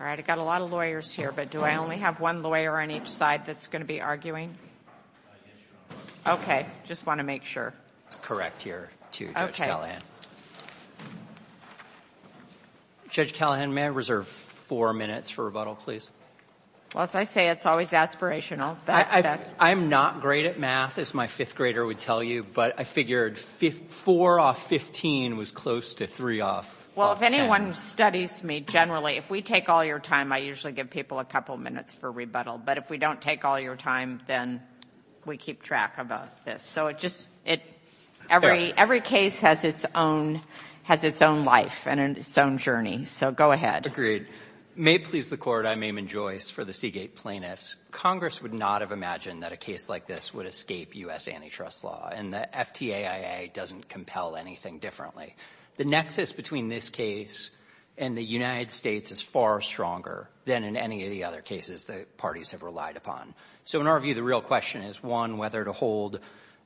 All right, I got a lot of lawyers here, but do I only have one lawyer on each side that's going to be arguing? Okay, just want to make sure. Correct here to Judge Callahan. Judge Callahan, may I reserve four minutes for rebuttal, please? Well, as I say, it's always aspirational. I'm not great at math, as my fifth grader would tell you, but I figured four off 15 was close to three off 10. Well, if anyone studies me generally, if we take all your time, I usually give people a couple minutes for rebuttal, but if we don't take all your time, then we keep track of this. So it just, every case has its own life and its own journey, so go ahead. Agreed. May it please the Court, I'm Eamon Joyce for the Seagate Plaintiffs. Congress would not have imagined that a case like this would escape U.S. antitrust law, and the FTAIA doesn't compel anything differently. The nexus between this case and the United States is far stronger than in any of the other cases the parties have relied upon. So in our view, the real question is, one, whether to hold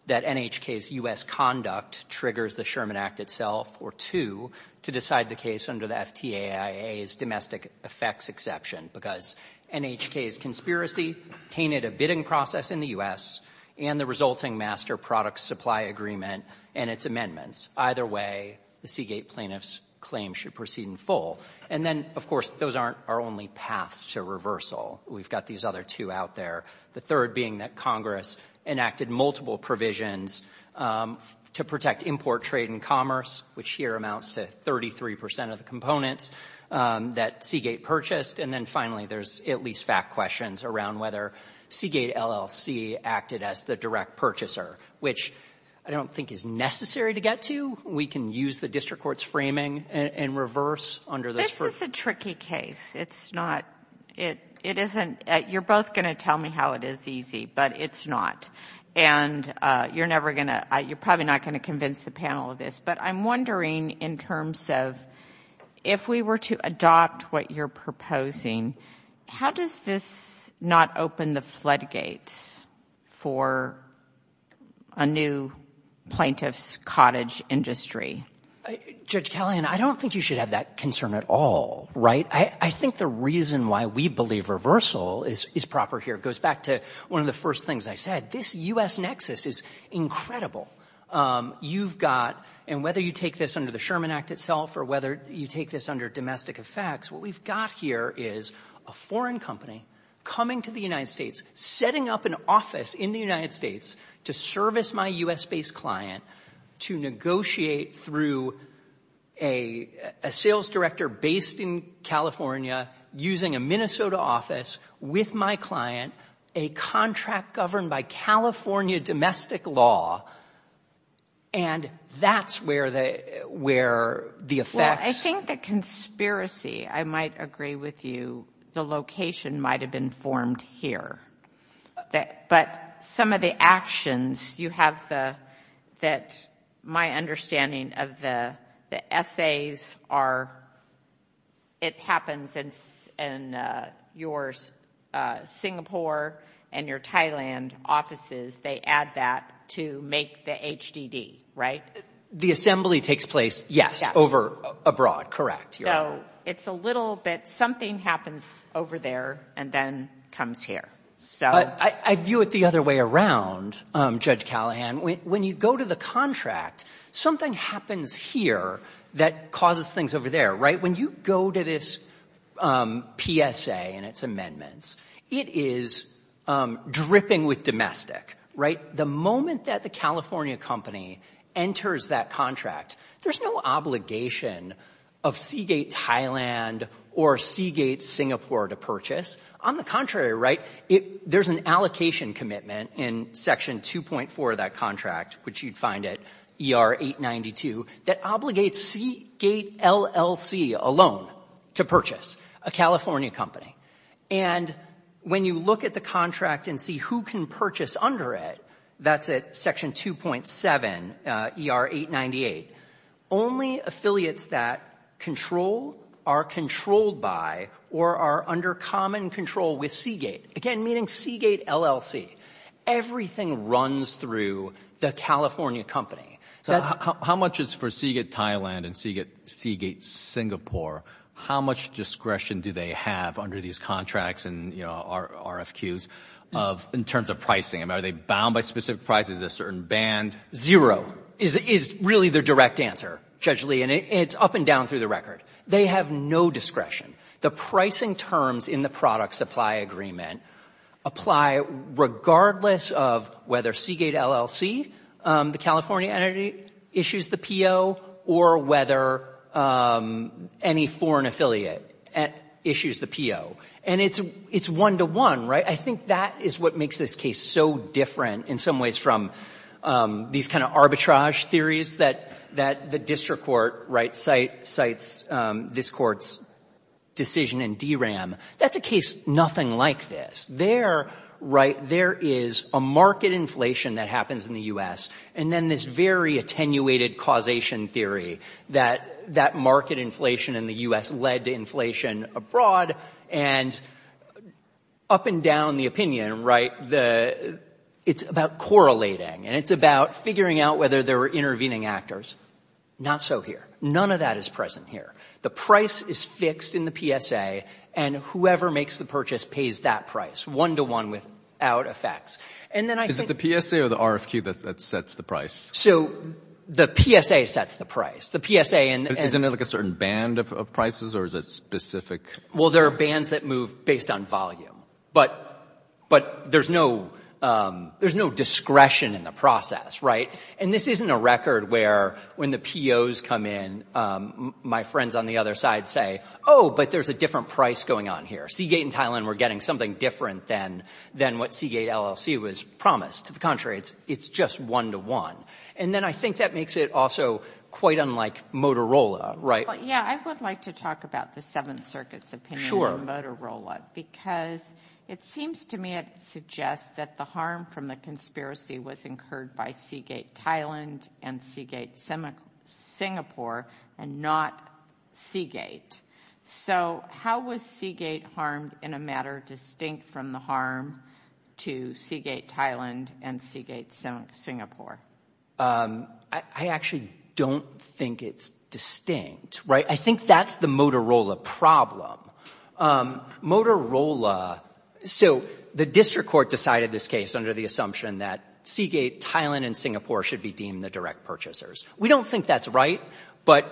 that NHK's U.S. conduct triggers the Sherman Act itself, or two, to decide the case under the FTAIA's domestic effects exception, because NHK's conspiracy tainted a bidding process in the U.S. and the resulting master product supply agreement and its amendments. Either way, the Seagate Plaintiffs' claim should proceed in full. And then, of course, those aren't our only paths to reversal. We've got these other two out there, the third being that Congress enacted multiple provisions to protect import trade and commerce, which here amounts to 33 percent of the components that Seagate purchased, and then finally there's at least fact questions around whether Seagate LLC acted as the direct purchaser, which I don't think is necessary to get to. We can use the district court's framing and reverse under this. This is a tricky case. It's not — it isn't — you're both going to tell me how it is easy, but it's not. And you're never going to — you're probably not going to convince the panel of this. But I'm wondering, in terms of if we were to adopt what you're proposing, how does this not open the floodgates for a new plaintiff's cottage industry? MR. CLEMENTI. Judge Kellyanne, I don't think you should have that concern at all, right? I think the reason why we believe reversal is proper here goes back to one of the first things I said. This U.S. nexus is incredible. You've got — and whether you take this under the Sherman Act itself or whether you take this under domestic effects, what we've got here is a foreign company coming to the United States, setting up an office in the United States to service my U.S.-based client, to negotiate through a sales director based in California, using a Minnesota office with my client, a contract governed by California domestic law. And that's where the — where the effects — JUDGE FONER. Well, I think the conspiracy, I might agree with you, the location might have been formed here. But some of the actions, you have the — that my understanding of the essays are it happens in your Singapore and your Thailand offices. They add that to make the HDD, right? MR. CLEMENTI. The assembly takes place, yes, over abroad, correct. JUDGE FONER. So it's a little bit — something happens over there and then comes here. MR. CLEMENTI. But I view it the other way around, Judge Kellyanne. When you go to the contract, something happens here that causes things over there, right? When you go to this PSA and its amendments, it is dripping with domestic, right? The moment that the California company enters that contract, there's no obligation of Seagate Thailand or Seagate Singapore to purchase. On the contrary, right, there's an allocation commitment in Section 2.4 of that contract, which you'd find at ER-892, that obligates Seagate LLC alone to purchase, a California company. And when you look at the contract and see who can purchase under it, that's at Section 2.7, ER-898, only affiliates that control are controlled by or are under common control with Seagate, again, meaning Seagate LLC. Everything runs through the California company. So — JUDGE LEE. How much is — for Seagate Thailand and Seagate Singapore, how much discretion do they have under these contracts and, you know, RFQs in terms of pricing? I mean, are they bound by specific prices, is there a certain band? MR. CLEMENTI. Zero is really the direct answer, Judge Lee, and it's up and down through the They have no discretion. The pricing terms in the product supply agreement apply regardless of whether Seagate LLC, the California entity, issues the PO or whether any foreign affiliate issues the PO. And it's one-to-one, right? I think that is what makes this case so different in some ways from these kind of arbitrage theories that the district court, right, cites this court's decision in DRAM. That's a case nothing like this. There, right, there is a market inflation that happens in the U.S. and then this very attenuated causation theory that that market inflation in the U.S. led to inflation abroad. And up and down the opinion, right, the — it's about correlating, and it's about figuring out whether there were intervening actors. Not so here. None of that is present here. The price is fixed in the PSA, and whoever makes the purchase pays that price, one-to-one without effects. And then I think — JUSTICE ALITO. Is it the PSA or the RFQ that sets the price? MR. CLEMENTI. So the PSA sets the price. The PSA — JUSTICE ALITO. Isn't it like a certain band of prices, or is it specific? MR. CLEMENTI. Well, there are bands that move based on volume. But there's no — there's no discretion in the process, right? And this isn't a record where, when the POs come in, my friends on the other side say, oh, but there's a different price going on here. Seagate and Thailand were getting something different than what Seagate LLC was promised. To the contrary, it's just one-to-one. And then I think that makes it also quite unlike Motorola, right? I would like to talk about the Seventh Circuit's opinion on Motorola because it seems to me it suggests that the harm from the conspiracy was incurred by Seagate Thailand and Seagate Singapore and not Seagate. So how was Seagate harmed in a matter distinct from the harm to Seagate Thailand and Seagate Singapore? MR. CLEMENTI. I actually don't think it's distinct, right? I think that's the Motorola problem. Motorola — so the district court decided this case under the assumption that Seagate Thailand and Singapore should be deemed the direct purchasers. We don't think that's right, but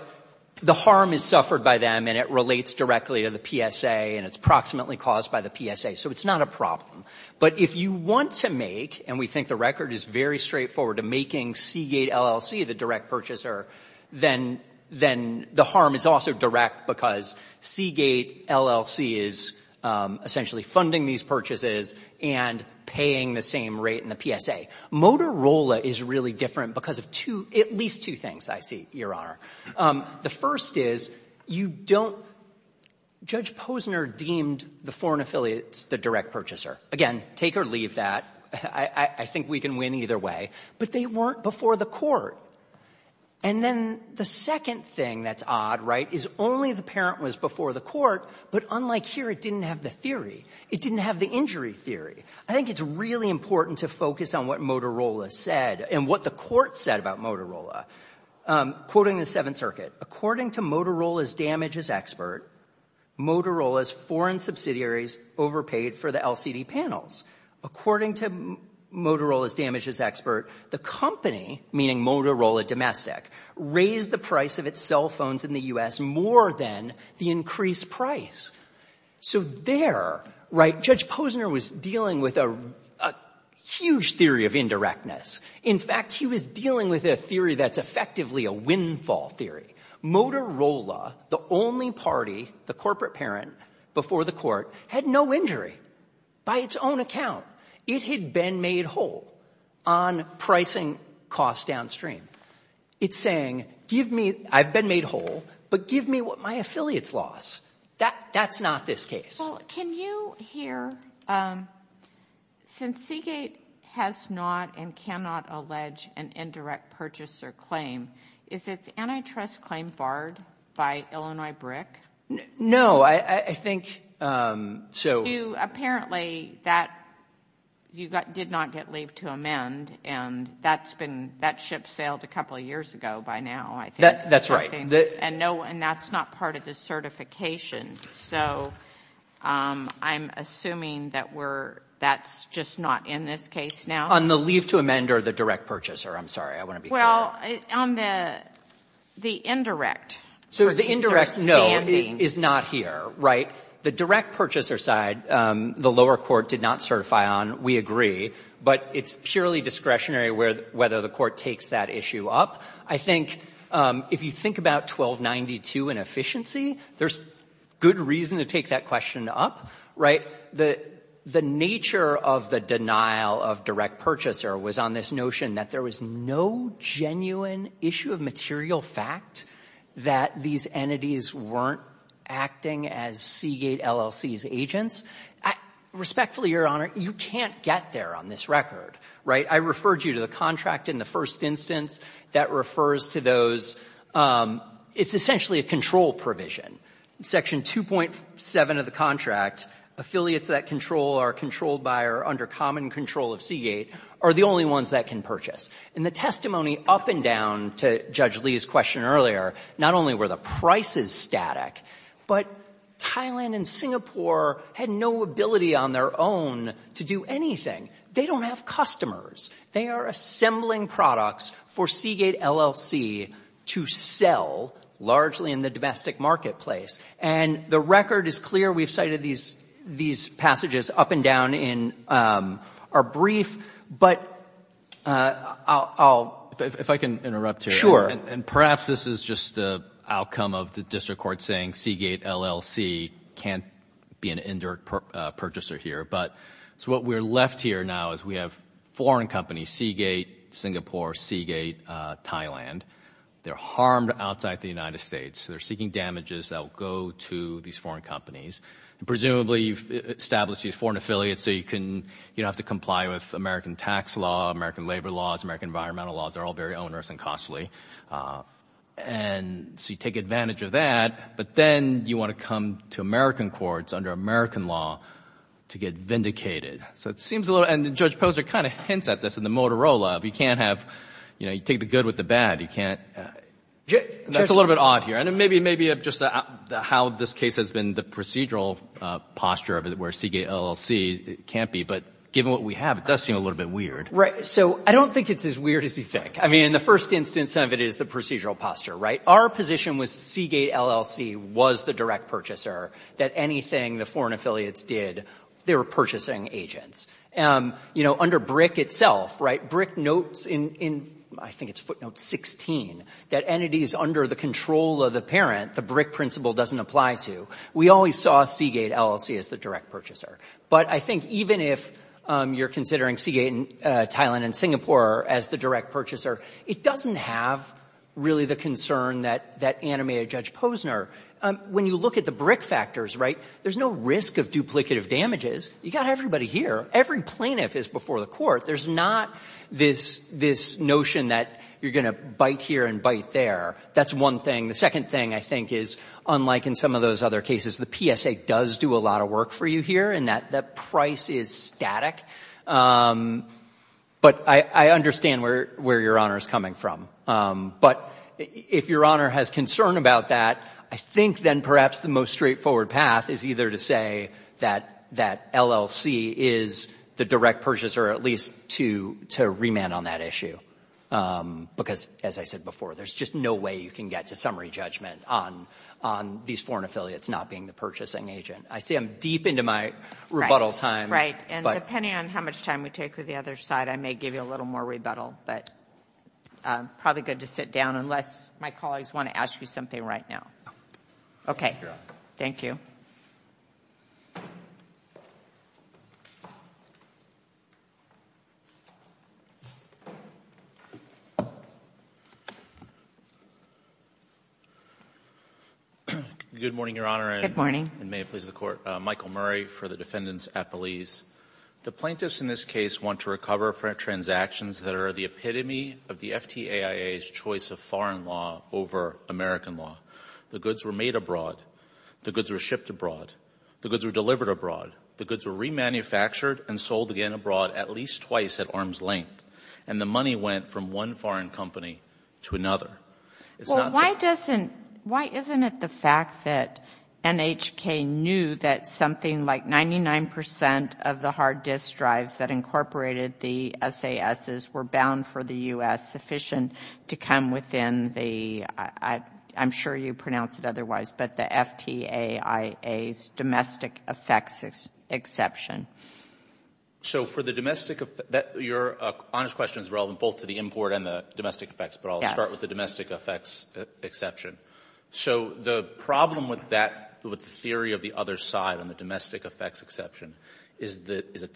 the harm is suffered by them and it relates directly to the PSA and it's approximately caused by the PSA. So it's not a problem. But if you want to make — and we think the record is very straightforward — to making Seagate LLC the direct purchaser, then the harm is also direct because Seagate LLC is essentially funding these purchases and paying the same rate in the PSA. Motorola is really different because of two — at least two things, I see, Your Honor. The first is you don't — Judge Posner deemed the foreign affiliates the direct purchaser. Again, take or leave that. I think we can win either way. But they weren't before the court. And then the second thing that's odd, right, is only the parent was before the court, but unlike here, it didn't have the theory. It didn't have the injury theory. I think it's really important to focus on what Motorola said and what the court said about Motorola. Quoting the Seventh Circuit, according to Motorola's damages expert, Motorola's foreign subsidiaries overpaid for the LCD panels. According to Motorola's damages expert, the company, meaning Motorola Domestic, raised the price of its cell phones in the U.S. more than the increased price. So there, right, Judge Posner was dealing with a huge theory of indirectness. In fact, he was dealing with a theory that's effectively a windfall theory. Motorola, the only party, the corporate parent before the court, had no injury by its own account. It had been made whole on pricing costs downstream. It's saying, give me — I've been made whole, but give me what my affiliates lost. That's not this case. Well, can you hear — since Seagate has not and cannot allege an indirect purchaser claim, is its antitrust claim barred by Illinois BRIC? No. I think — So apparently that — you did not get leave to amend, and that's been — that ship sailed a couple years ago by now, I think. That's right. And no — and that's not part of the certification. So I'm assuming that we're — that's just not in this case now? On the leave to amend or the direct purchaser. I'm sorry. I want to be clear. On the indirect. So the indirect, no, is not here, right? The direct purchaser side, the lower court did not certify on, we agree. But it's purely discretionary whether the court takes that issue up. I think if you think about 1292 and efficiency, there's good reason to take that question up, right? The nature of the denial of direct purchaser was on this notion that there was no genuine issue of material fact that these entities weren't acting as Seagate LLC's agents. Respectfully, Your Honor, you can't get there on this record, right? I referred you to the contract in the first instance that refers to those — it's essentially a control provision. Section 2.7 of the contract, affiliates that control are controlled by or under common control of Seagate are the only ones that can purchase. In the testimony up and down to Judge Lee's question earlier, not only were the prices static, but Thailand and Singapore had no ability on their own to do anything. They don't have customers. They are assembling products for Seagate LLC to sell, largely in the domestic marketplace. And the record is clear. We've cited these passages up and down in our brief. But I'll — If I can interrupt here. And perhaps this is just the outcome of the district court saying Seagate LLC can't be an indirect purchaser here. But so what we're left here now is we have foreign companies, Seagate Singapore, Seagate Thailand. They're harmed outside the United States. They're seeking damages that will go to these foreign companies. Presumably, you've established these foreign affiliates so you can — you don't have to comply with American tax law, American labor laws, American environmental laws. They're all very onerous and costly. And so you take advantage of that, but then you want to come to American courts under American law to get vindicated. So it seems a little — and Judge Posner kind of hints at this in the Motorola of you can't have — you know, you take the good with the bad. You can't — that's a little bit odd here. And maybe just how this case has been, the procedural posture of it where Seagate LLC can't be. But given what we have, it does seem a little bit weird. Right. So I don't think it's as weird as you think. I mean, in the first instance of it is the procedural posture, right? Our position was Seagate LLC was the direct purchaser, that anything the foreign affiliates did, they were purchasing agents. You know, under BRIC itself, right, BRIC notes in — I think it's footnote 16 — that entities under the control of the parent, the BRIC principle doesn't apply to. We always saw Seagate LLC as the direct purchaser. But I think even if you're considering Seagate in Thailand and Singapore as the direct purchaser, it doesn't have really the concern that animated Judge Posner. When you look at the BRIC factors, right, there's no risk of duplicative damages. You've got everybody here. Every plaintiff is before the court. There's not this notion that you're going to bite here and bite there. That's one thing. The second thing, I think, is unlike in some of those other cases, the PSA does do a lot of work for you here in that the price is static. But I understand where Your Honor is coming from. But if Your Honor has concern about that, I think then perhaps the most straightforward path is either to say that LLC is the direct purchaser or at least to remand on that issue. Because as I said before, there's just no way you can get to summary judgment on these foreign affiliates not being the purchasing agent. I see I'm deep into my rebuttal time. Right. And depending on how much time we take with the other side, I may give you a little more rebuttal. But probably good to sit down unless my colleagues want to ask you something right now. Okay. Thank you. Good morning, Your Honor. And may it please the Court. Michael Murray for the defendants appellees. The plaintiffs in this case want to recover transactions that are the epitome of the FTAIA's choice of foreign law over American law. The goods were made abroad. The goods were shipped abroad. The goods were delivered abroad. The goods were remanufactured and sold again abroad at least twice at arm's length. And the money went from one foreign company to another. Well, why doesn't, why isn't it the fact that NHK knew that something like 99 percent of the hard disk drives that incorporated the SASs were bound for the U.S., sufficient to come within the, I'm sure you pronounce it otherwise, but the FTAIA's domestic effects exception? So for the domestic, Your Honor's question is relevant both to the import and the domestic effects, but I'll start with the domestic effects exception. So the problem with that, with the theory of the other side on the domestic effects exception, is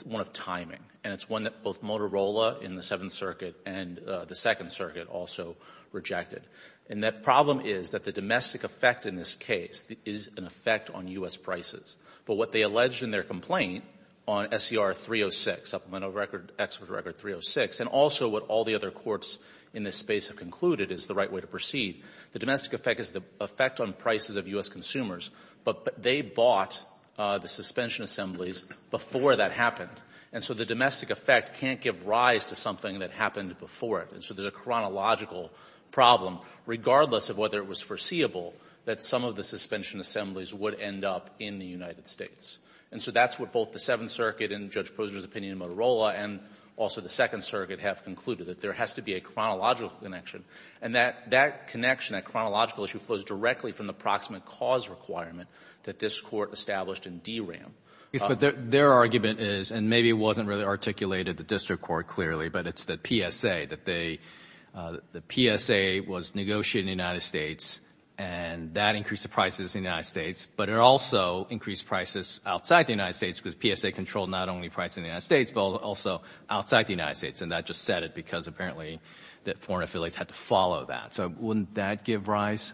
one of timing. And it's one that both Motorola in the Seventh Circuit and the Second Circuit also rejected. And that problem is that the domestic effect in this case is an effect on U.S. prices. But what they alleged in their complaint on SCR 306, Supplemental Record, Expert Record 306, and also what all the other courts in this space have concluded is the right way to proceed, the domestic effect is the effect on prices of U.S. consumers. But they bought the suspension assemblies before that happened. And so the domestic effect can't give rise to something that happened before it. And so there's a chronological problem, regardless of whether it was foreseeable that some of the suspension assemblies would end up in the United States. And so that's what both the Seventh Circuit and Judge Posner's opinion in Motorola and also the Second Circuit have concluded, that there has to be a chronological connection. And that connection, that chronological issue, flows directly from the proximate cause requirement that this Court established in DRAM. Yes, but their argument is, and maybe it wasn't really articulated at the District Court clearly, but it's the PSA, that the PSA was negotiated in the United States and that increased prices in the United States, but it also increased prices outside the United States because PSA controlled not only prices in the United States, but also outside the United States. And that just said it because apparently the foreign affiliates had to follow that. So wouldn't that give rise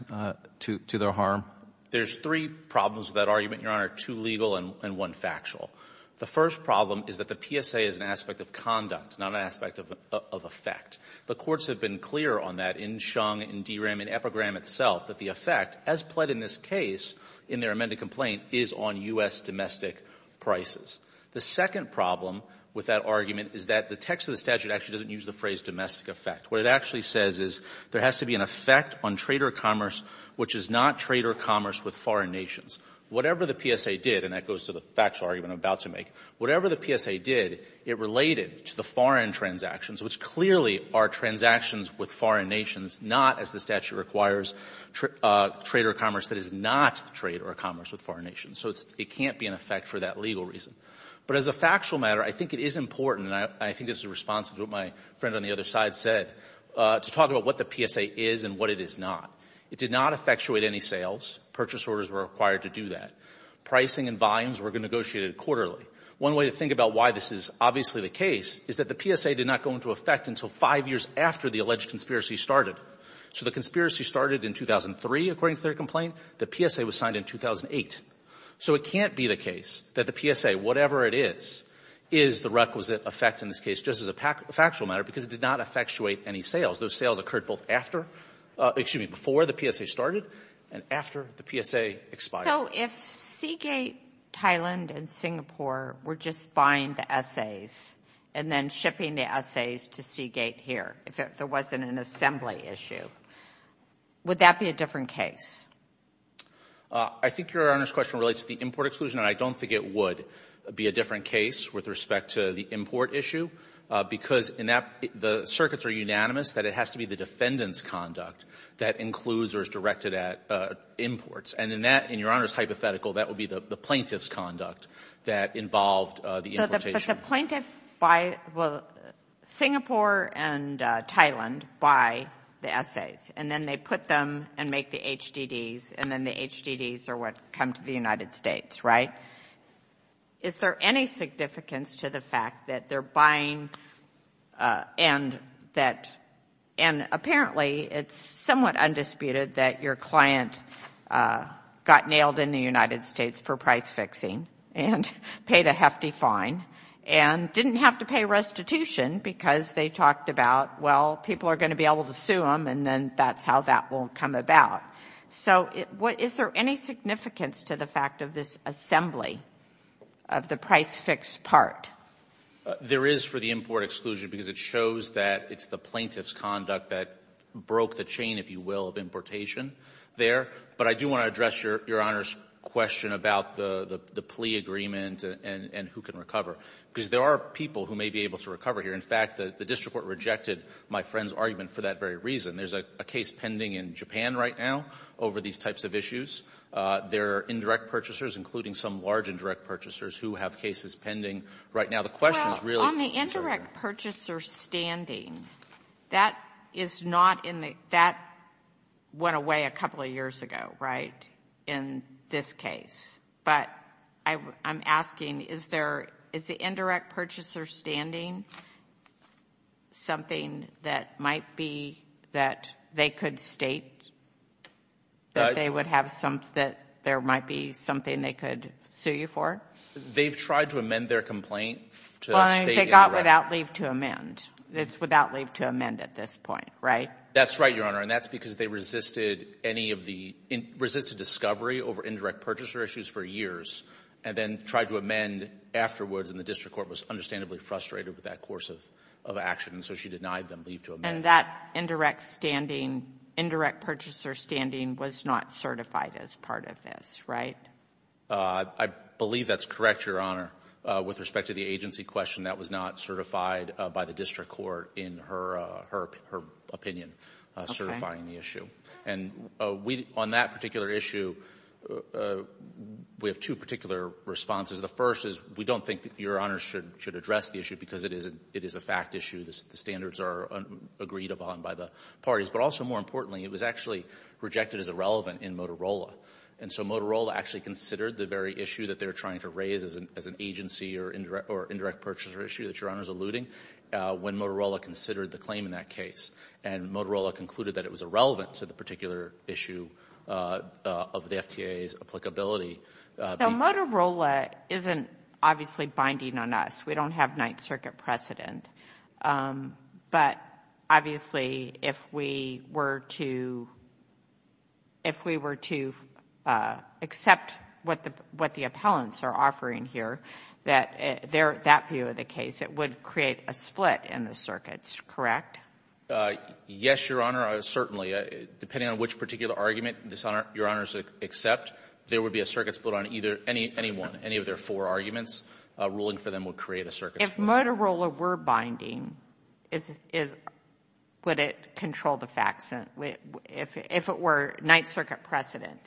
to their harm? There's three problems with that argument, Your Honor, two legal and one factual. The first problem is that the PSA is an aspect of conduct, not an aspect of effect. The courts have been clear on that in Xiong, in DRAM, in EPRGRAM itself, that the effect, as pled in this case in their amended complaint, is on U.S. domestic prices. The second problem with that argument is that the text of the statute actually doesn't use the phrase domestic effect. What it actually says is there has to be an effect on trader commerce which is not trader commerce with foreign nations. Whatever the PSA did, and that goes to the factual argument I'm about to make, whatever the PSA did, it related to the foreign transactions, which clearly are transactions with foreign nations, not, as the statute requires, trader commerce that is not trader commerce with foreign nations. So it can't be an effect for that legal reason. But as a factual matter, I think it is important, and I think this is responsive to what my friend on the other side said, to talk about what the PSA is and what it is not. It did not effectuate any sales. Purchase orders were required to do that. Pricing and volumes were negotiated quarterly. One way to think about why this is obviously the case is that the PSA did not go into effect until five years after the alleged conspiracy started. So the conspiracy started in 2003, according to their complaint. The PSA was signed in 2008. So it can't be the case that the PSA, whatever it is, is the requisite effect in this case, just as a factual matter, because it did not effectuate any sales. Those sales occurred both after — excuse me, before the PSA started and after the PSA expired. If Seagate Thailand and Singapore were just buying the SAs and then shipping the SAs to Seagate here, if there wasn't an assembly issue, would that be a different case? I think Your Honor's question relates to the import exclusion, and I don't think it would be a different case with respect to the import issue, because the circuits are unanimous that it has to be the defendant's conduct that includes or is directed at imports. And in that — in Your Honor's hypothetical, that would be the plaintiff's conduct that involved the importation. But the plaintiff — Singapore and Thailand buy the SAs, and then they put them and make the HDDs, and then the HDDs are what come to the United States, right? Is there any significance to the fact that they're buying — and that — and apparently it's somewhat undisputed that your client got nailed in the United States for price-fixing and paid a hefty fine and didn't have to pay restitution because they talked about, well, people are going to be able to sue them, and then that's how that will come about. So is there any significance to the fact of this assembly of the price-fix part? There is for the import exclusion because it shows that it's the plaintiff's conduct that broke the chain, if you will, of importation there. But I do want to address Your Honor's question about the plea agreement and who can recover, because there are people who may be able to recover here. In fact, the district court rejected my friend's argument for that very reason. There's a case pending in Japan right now over these types of issues. There are indirect purchasers, including some large indirect purchasers, who have cases pending right now. The question is really — Indirect purchasers standing, that is not in the — that went away a couple of years ago, right, in this case. But I'm asking, is the indirect purchaser standing something that might be that they could state that they would have some — that there might be something they could sue you for? They've tried to amend their complaint to state — Well, they got without leave to amend. It's without leave to amend at this point, right? That's right, Your Honor, and that's because they resisted any of the — resisted discovery over indirect purchaser issues for years and then tried to amend afterwards, and the district court was understandably frustrated with that course of action, and so she denied them leave to amend. And that indirect standing — indirect purchaser standing was not certified as part of this, right? I believe that's correct, Your Honor. With respect to the agency question, that was not certified by the district court in her opinion, certifying the issue. And we — on that particular issue, we have two particular responses. The first is we don't think that Your Honor should address the issue because it is a fact issue. The standards are agreed upon by the parties. But also, more importantly, it was actually rejected as irrelevant in Motorola, and so Motorola actually considered the very issue that they were trying to raise as an agency or indirect purchaser issue that Your Honor is alluding when Motorola considered the claim in that case, and Motorola concluded that it was irrelevant to the particular issue of the FTA's applicability. So Motorola isn't obviously binding on us. We don't have Ninth Circuit precedent, but obviously, if we were to — if we were to accept what the — what the appellants are offering here, that — that view of the case, it would create a split in the circuits, correct? Yes, Your Honor, certainly. Depending on which particular argument Your Honors accept, there would be a circuit split on either — anyone, any of their four arguments. Ruling for them would create a circuit split. If Motorola were binding, is — would it control the facts? If it were Ninth Circuit precedent,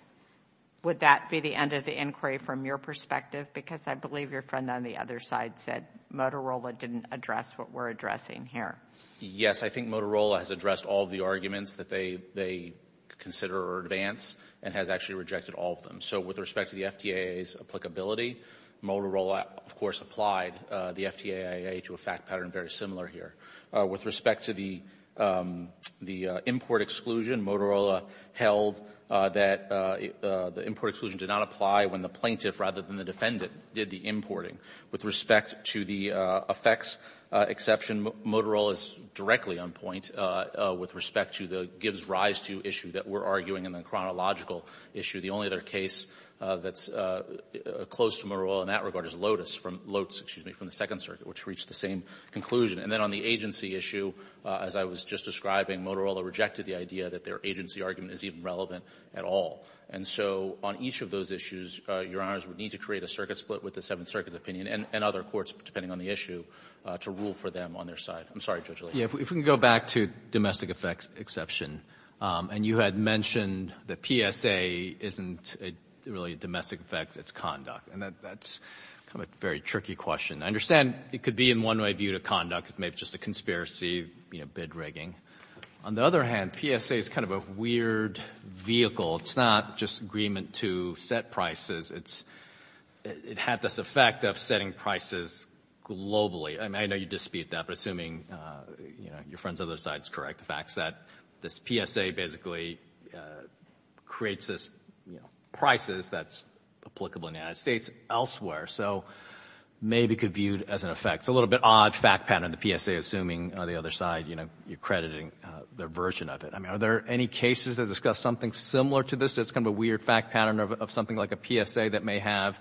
would that be the end of the inquiry from your perspective? Because I believe your friend on the other side said Motorola didn't address what we're addressing here. Yes, I think Motorola has addressed all of the arguments that they consider or advance and has actually rejected all of them. So with respect to the FTA's applicability, Motorola, of course, applied the FTAIA to a fact pattern very similar here. With respect to the — the import exclusion, Motorola held that the import exclusion did not apply when the plaintiff, rather than the defendant, did the importing. With respect to the effects exception, Motorola is directly on point with respect to the gives rise to issue that we're arguing in the chronological issue. The only other case that's close to Motorola in that regard is LOTUS from — LOTUS, excuse me, from the Second Circuit, which reached the same conclusion. And then on the agency issue, as I was just describing, Motorola rejected the idea that their agency argument is even relevant at all. And so on each of those issues, Your Honors, we need to create a circuit split with the Seventh Circuit's opinion and other courts, depending on the issue, to rule for them on their side. I'm sorry, Judge Lee. Yeah, if we can go back to domestic effects exception. And you had mentioned that PSA isn't really a domestic effect. It's conduct. And that's kind of a very tricky question. I understand it could be, in one way, viewed as conduct. It's maybe just a conspiracy, you know, bid rigging. On the other hand, PSA is kind of a weird vehicle. It's not just agreement to set prices. It's — it had this effect of setting prices globally. I mean, I know you dispute that, but assuming, you know, your friend's other side is correct, that this PSA basically creates this, you know, prices that's applicable in the United States elsewhere. So maybe it could be viewed as an effect. It's a little bit odd fact pattern, the PSA, assuming the other side, you know, you're crediting their version of it. I mean, are there any cases that discuss something similar to this that's kind of a weird fact pattern of something like a PSA that may have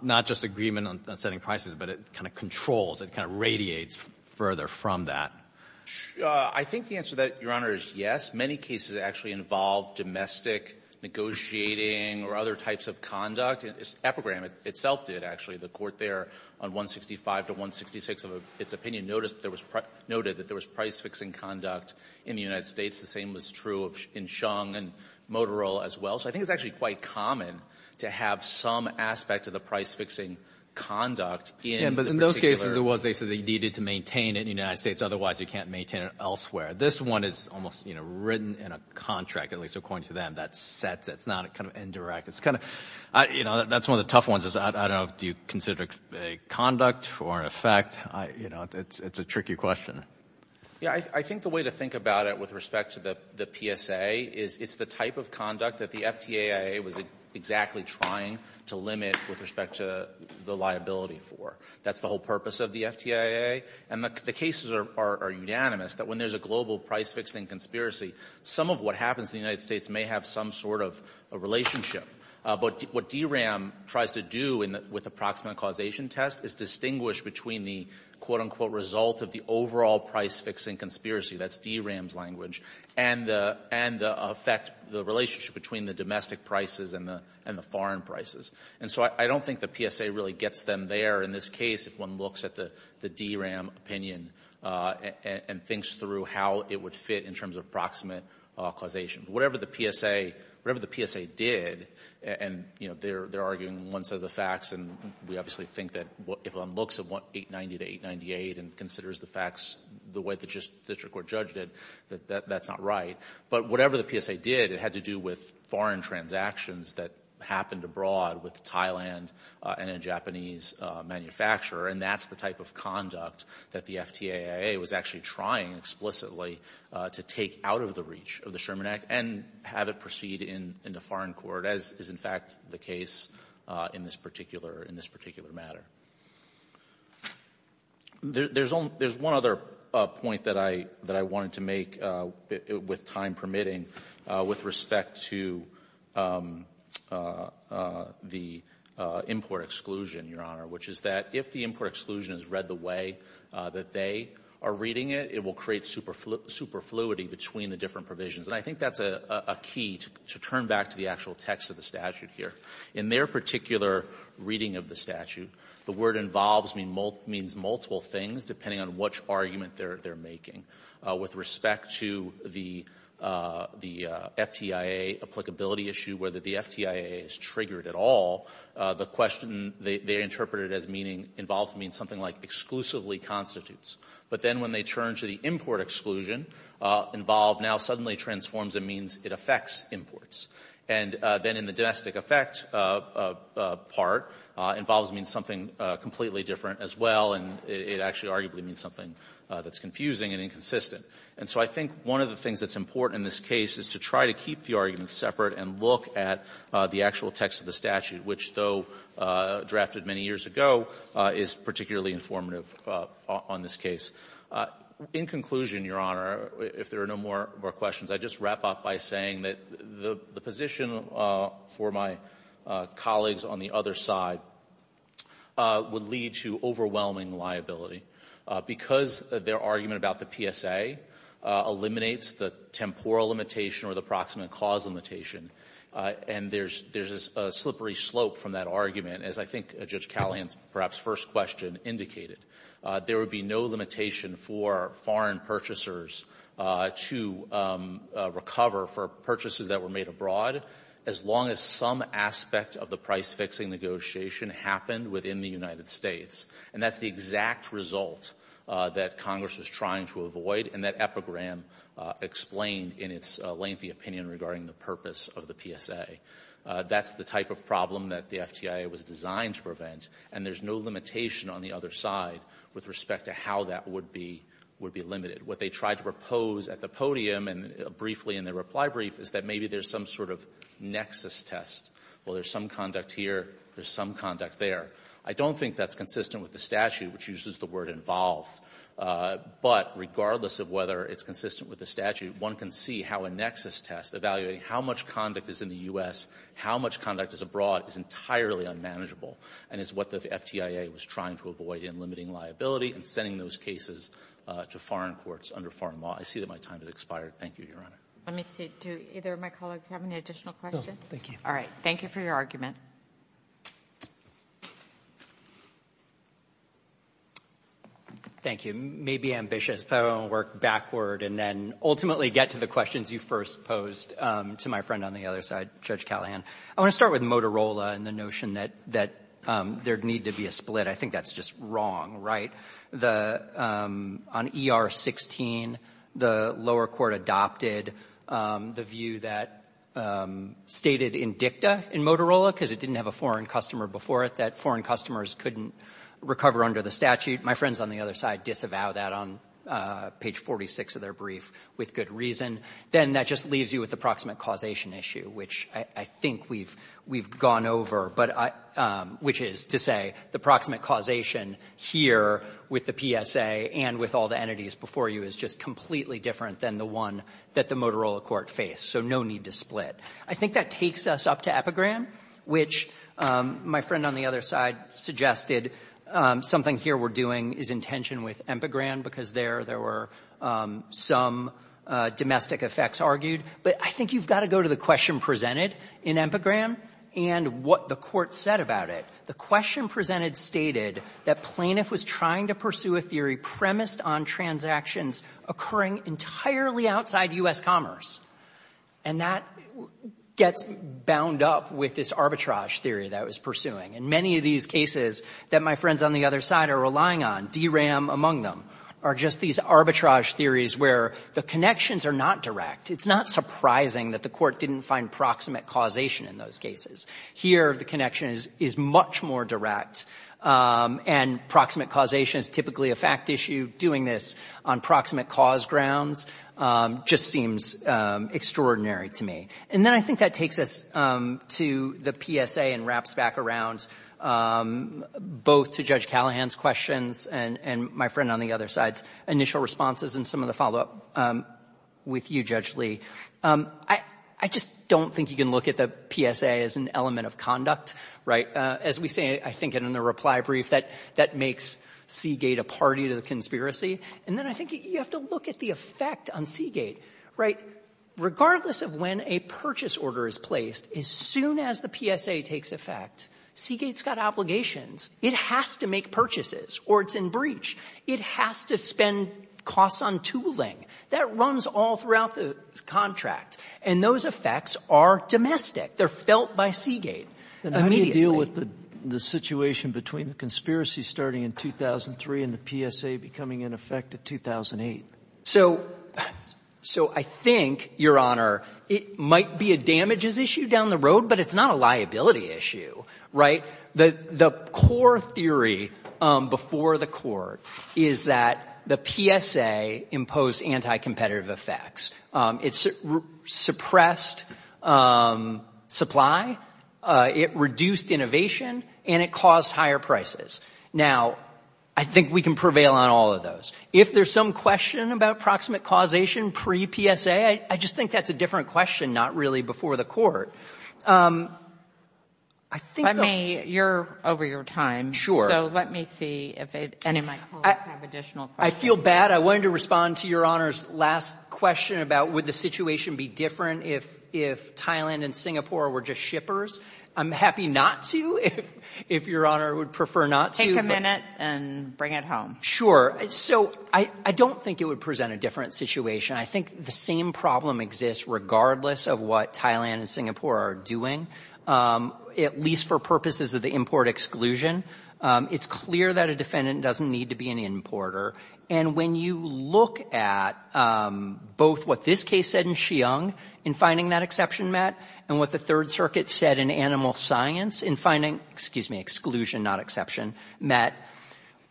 not just agreement on setting prices, but it kind of controls, it kind of radiates further from that? I think the answer to that, Your Honor, is yes. Many cases actually involve domestic negotiating or other types of conduct. Epigram itself did, actually. The Court there on 165 to 166 of its opinion noted that there was price-fixing conduct in the United States. The same was true in Chung and Motorola as well. So I think it's actually quite common to have some aspect of the price-fixing conduct in the particular — you can't maintain it elsewhere. This one is almost, you know, written in a contract, at least according to them, that sets — it's not kind of indirect. It's kind of — you know, that's one of the tough ones is, I don't know, do you consider it a conduct or an effect? You know, it's a tricky question. Yeah, I think the way to think about it with respect to the PSA is it's the type of conduct that the FTAIA was exactly trying to limit with respect to the liability for. That's the whole purpose of the FTAIA. And the cases are unanimous that when there's a global price-fixing conspiracy, some of what happens in the United States may have some sort of a relationship. But what DRAM tries to do in the — with the proximate causation test is distinguish between the, quote, unquote, result of the overall price-fixing conspiracy, that's DRAM's language, and the — and the effect, the relationship between the domestic prices and the — and the foreign prices. And so I don't think the PSA really gets them there in this case if one looks at the DRAM opinion and thinks through how it would fit in terms of proximate causation. Whatever the PSA — whatever the PSA did — and, you know, they're arguing one set of the facts, and we obviously think that if one looks at 890 to 898 and considers the facts the way the district court judged it, that that's not right. But whatever the PSA did, it had to do with foreign transactions that happened abroad with Thailand and a Japanese manufacturer. And that's the type of conduct that the FTAIA was actually trying, explicitly, to take out of the reach of the Sherman Act and have it proceed into foreign court, as is, in fact, the case in this particular — in this particular matter. There's only — there's one other point that I — that I wanted to make, with time permitting, with respect to the import exclusion, Your Honor, which is that if the import exclusion is read the way that they are reading it, it will create superfluity between the different provisions. And I think that's a key to turn back to the actual text of the statute here. In their particular reading of the statute, the word involves means multiple things, depending on which argument they're making. With respect to the FTAIA applicability issue, whether the FTAIA is triggered at all, the question they interpreted as meaning — involved means something like exclusively constitutes. But then when they turn to the import exclusion, involved now suddenly transforms and means it affects imports. And then in the domestic effect part, involves means something completely different as well, and it actually arguably means something that's confusing and inconsistent. And so I think one of the things that's important in this case is to try to keep the arguments separate and look at the actual text of the statute, which, though drafted many years ago, is particularly informative on this case. In conclusion, Your Honor, if there are no more questions, I'd just wrap up by saying that the position for my colleagues on the other side would lead to overwhelming liability because their argument about the PSA eliminates the temporal limitation or the proximate cause limitation. And there's a slippery slope from that argument, as I think Judge Callahan's perhaps first question indicated. There would be no limitation for foreign purchasers to recover for purchases that were made abroad as long as some aspect of the price-fixing negotiation happened within the United States. And that's the exact result that Congress was trying to avoid, and that epigram explained in its lengthy opinion regarding the purpose of the PSA. That's the type of problem that the FTIA was designed to prevent, and there's no limitation on the other side with respect to how that would be limited. What they tried to propose at the podium and briefly in their reply brief is that maybe there's some sort of nexus test. Well, there's some conduct here, there's some conduct there. I don't think that's consistent with the statute, which uses the word involved. But regardless of whether it's consistent with the statute, one can see how a nexus test evaluating how much conduct is in the U.S., how much conduct is abroad is entirely unmanageable and is what the FTIA was trying to avoid in limiting liability and sending those cases to foreign courts under foreign law. I see that my time has expired. Thank you, Your Honor. Let me see. Do either of my colleagues have any additional questions? No, thank you. All right. Thank you for your argument. Thank you. Maybe ambitious, but I want to work backward and then ultimately get to the questions you first posed to my friend on the other side, Judge Callahan. I want to start with Motorola and the notion that there'd need to be a split. I think that's just wrong, right? On ER-16, the lower court adopted the view that stated in Motorola, because it didn't have a foreign customer before it, that foreign customers couldn't recover under the statute. My friends on the other side disavow that on page 46 of their brief with good reason. Then that just leaves you with the proximate causation issue, which I think we've gone over, but I — which is to say the proximate causation here with the PSA and with all the entities before you is just completely different than the one that the Epigram, which my friend on the other side suggested something here we're doing is in tension with Epigram, because there there were some domestic effects argued. But I think you've got to go to the question presented in Epigram and what the Court said about it. The question presented stated that plaintiff was trying to pursue a theory premised on transactions occurring entirely outside U.S. commerce, and that gets bound up with this arbitrage theory that was pursuing. And many of these cases that my friends on the other side are relying on, DRAM among them, are just these arbitrage theories where the connections are not direct. It's not surprising that the Court didn't find proximate causation in those cases. Here, the connection is much more direct, and proximate causation is typically a fact issue. Doing this on proximate cause grounds just seems extraordinary to me. And then I think that takes us to the PSA and wraps back around both to Judge Callahan's questions and my friend on the other side's initial responses and some of the follow-up with you, Judge Lee. I just don't think you can look at the PSA as an element of conduct, right? As we say, I think in the reply brief, that makes Seagate a party to the conspiracy. And then I think you have to look at the effect on Seagate, right? Regardless of when a purchase order is placed, as soon as the PSA takes effect, Seagate's got obligations. It has to make purchases, or it's in breach. It has to spend costs on tooling. That runs all throughout the contract. And those effects are domestic. They're felt by Seagate immediately. And how do you deal with the situation between the conspiracy starting in 2003 and the PSA becoming in effect in 2008? So I think, Your Honor, it might be a damages issue down the road, but it's not a liability issue, right? The core theory before the court is that the PSA imposed anti-competitive effects. It suppressed supply, it reduced innovation, and it caused higher prices. Now, I think we can prevail on all of those. If there's some question about proximate causation pre-PSA, I just think that's a different question, not really before the court. I think the — Let me — you're over your time. Sure. So let me see if any of my colleagues have additional questions. I feel bad. I wanted to respond to Your Honor's last question about would the situation be different if Thailand and Singapore were just shippers? I'm happy not to, if Your Honor would prefer not to. Take a minute and bring it home. Sure. So I don't think it would present a different situation. I think the same problem exists regardless of what Thailand and Singapore are doing, at least for purposes of the import exclusion. It's clear that a defendant doesn't need to be an importer. And when you look at both what this case said in Xiong in finding that exception met, and what the Third Circuit said in Animal Science in finding — excuse me, exclusion, not exception met,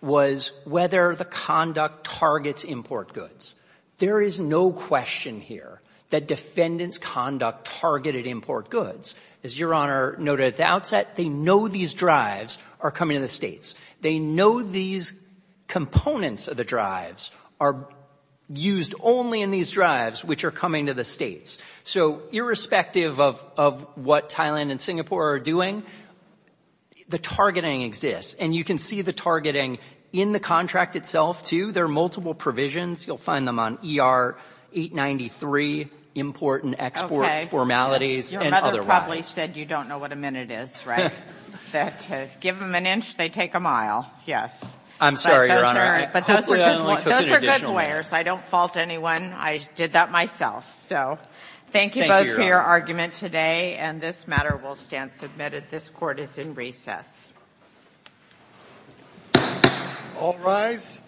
was whether the conduct targets import goods. There is no question here that defendants' conduct targeted import goods. As Your Honor noted at the outset, they know these drives are coming to the states. They know these components of the drives are used only in these drives which are coming to the states. So irrespective of what Thailand and Singapore are doing, the targeting exists. And you can see the targeting in the contract itself, too. There are multiple provisions. You'll find them on ER-893, import and export formalities, and otherwise. Okay. Your mother probably said you don't know what a minute is, right? That to give them an inch, they take a mile. Yes. I'm sorry, Your Honor. But those are good lawyers. I don't fault anyone. I did that myself. So thank you both for your argument today. And this matter will stand submitted. This court is in recess. All rise.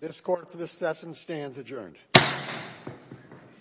This court for this session stands adjourned. Thank you.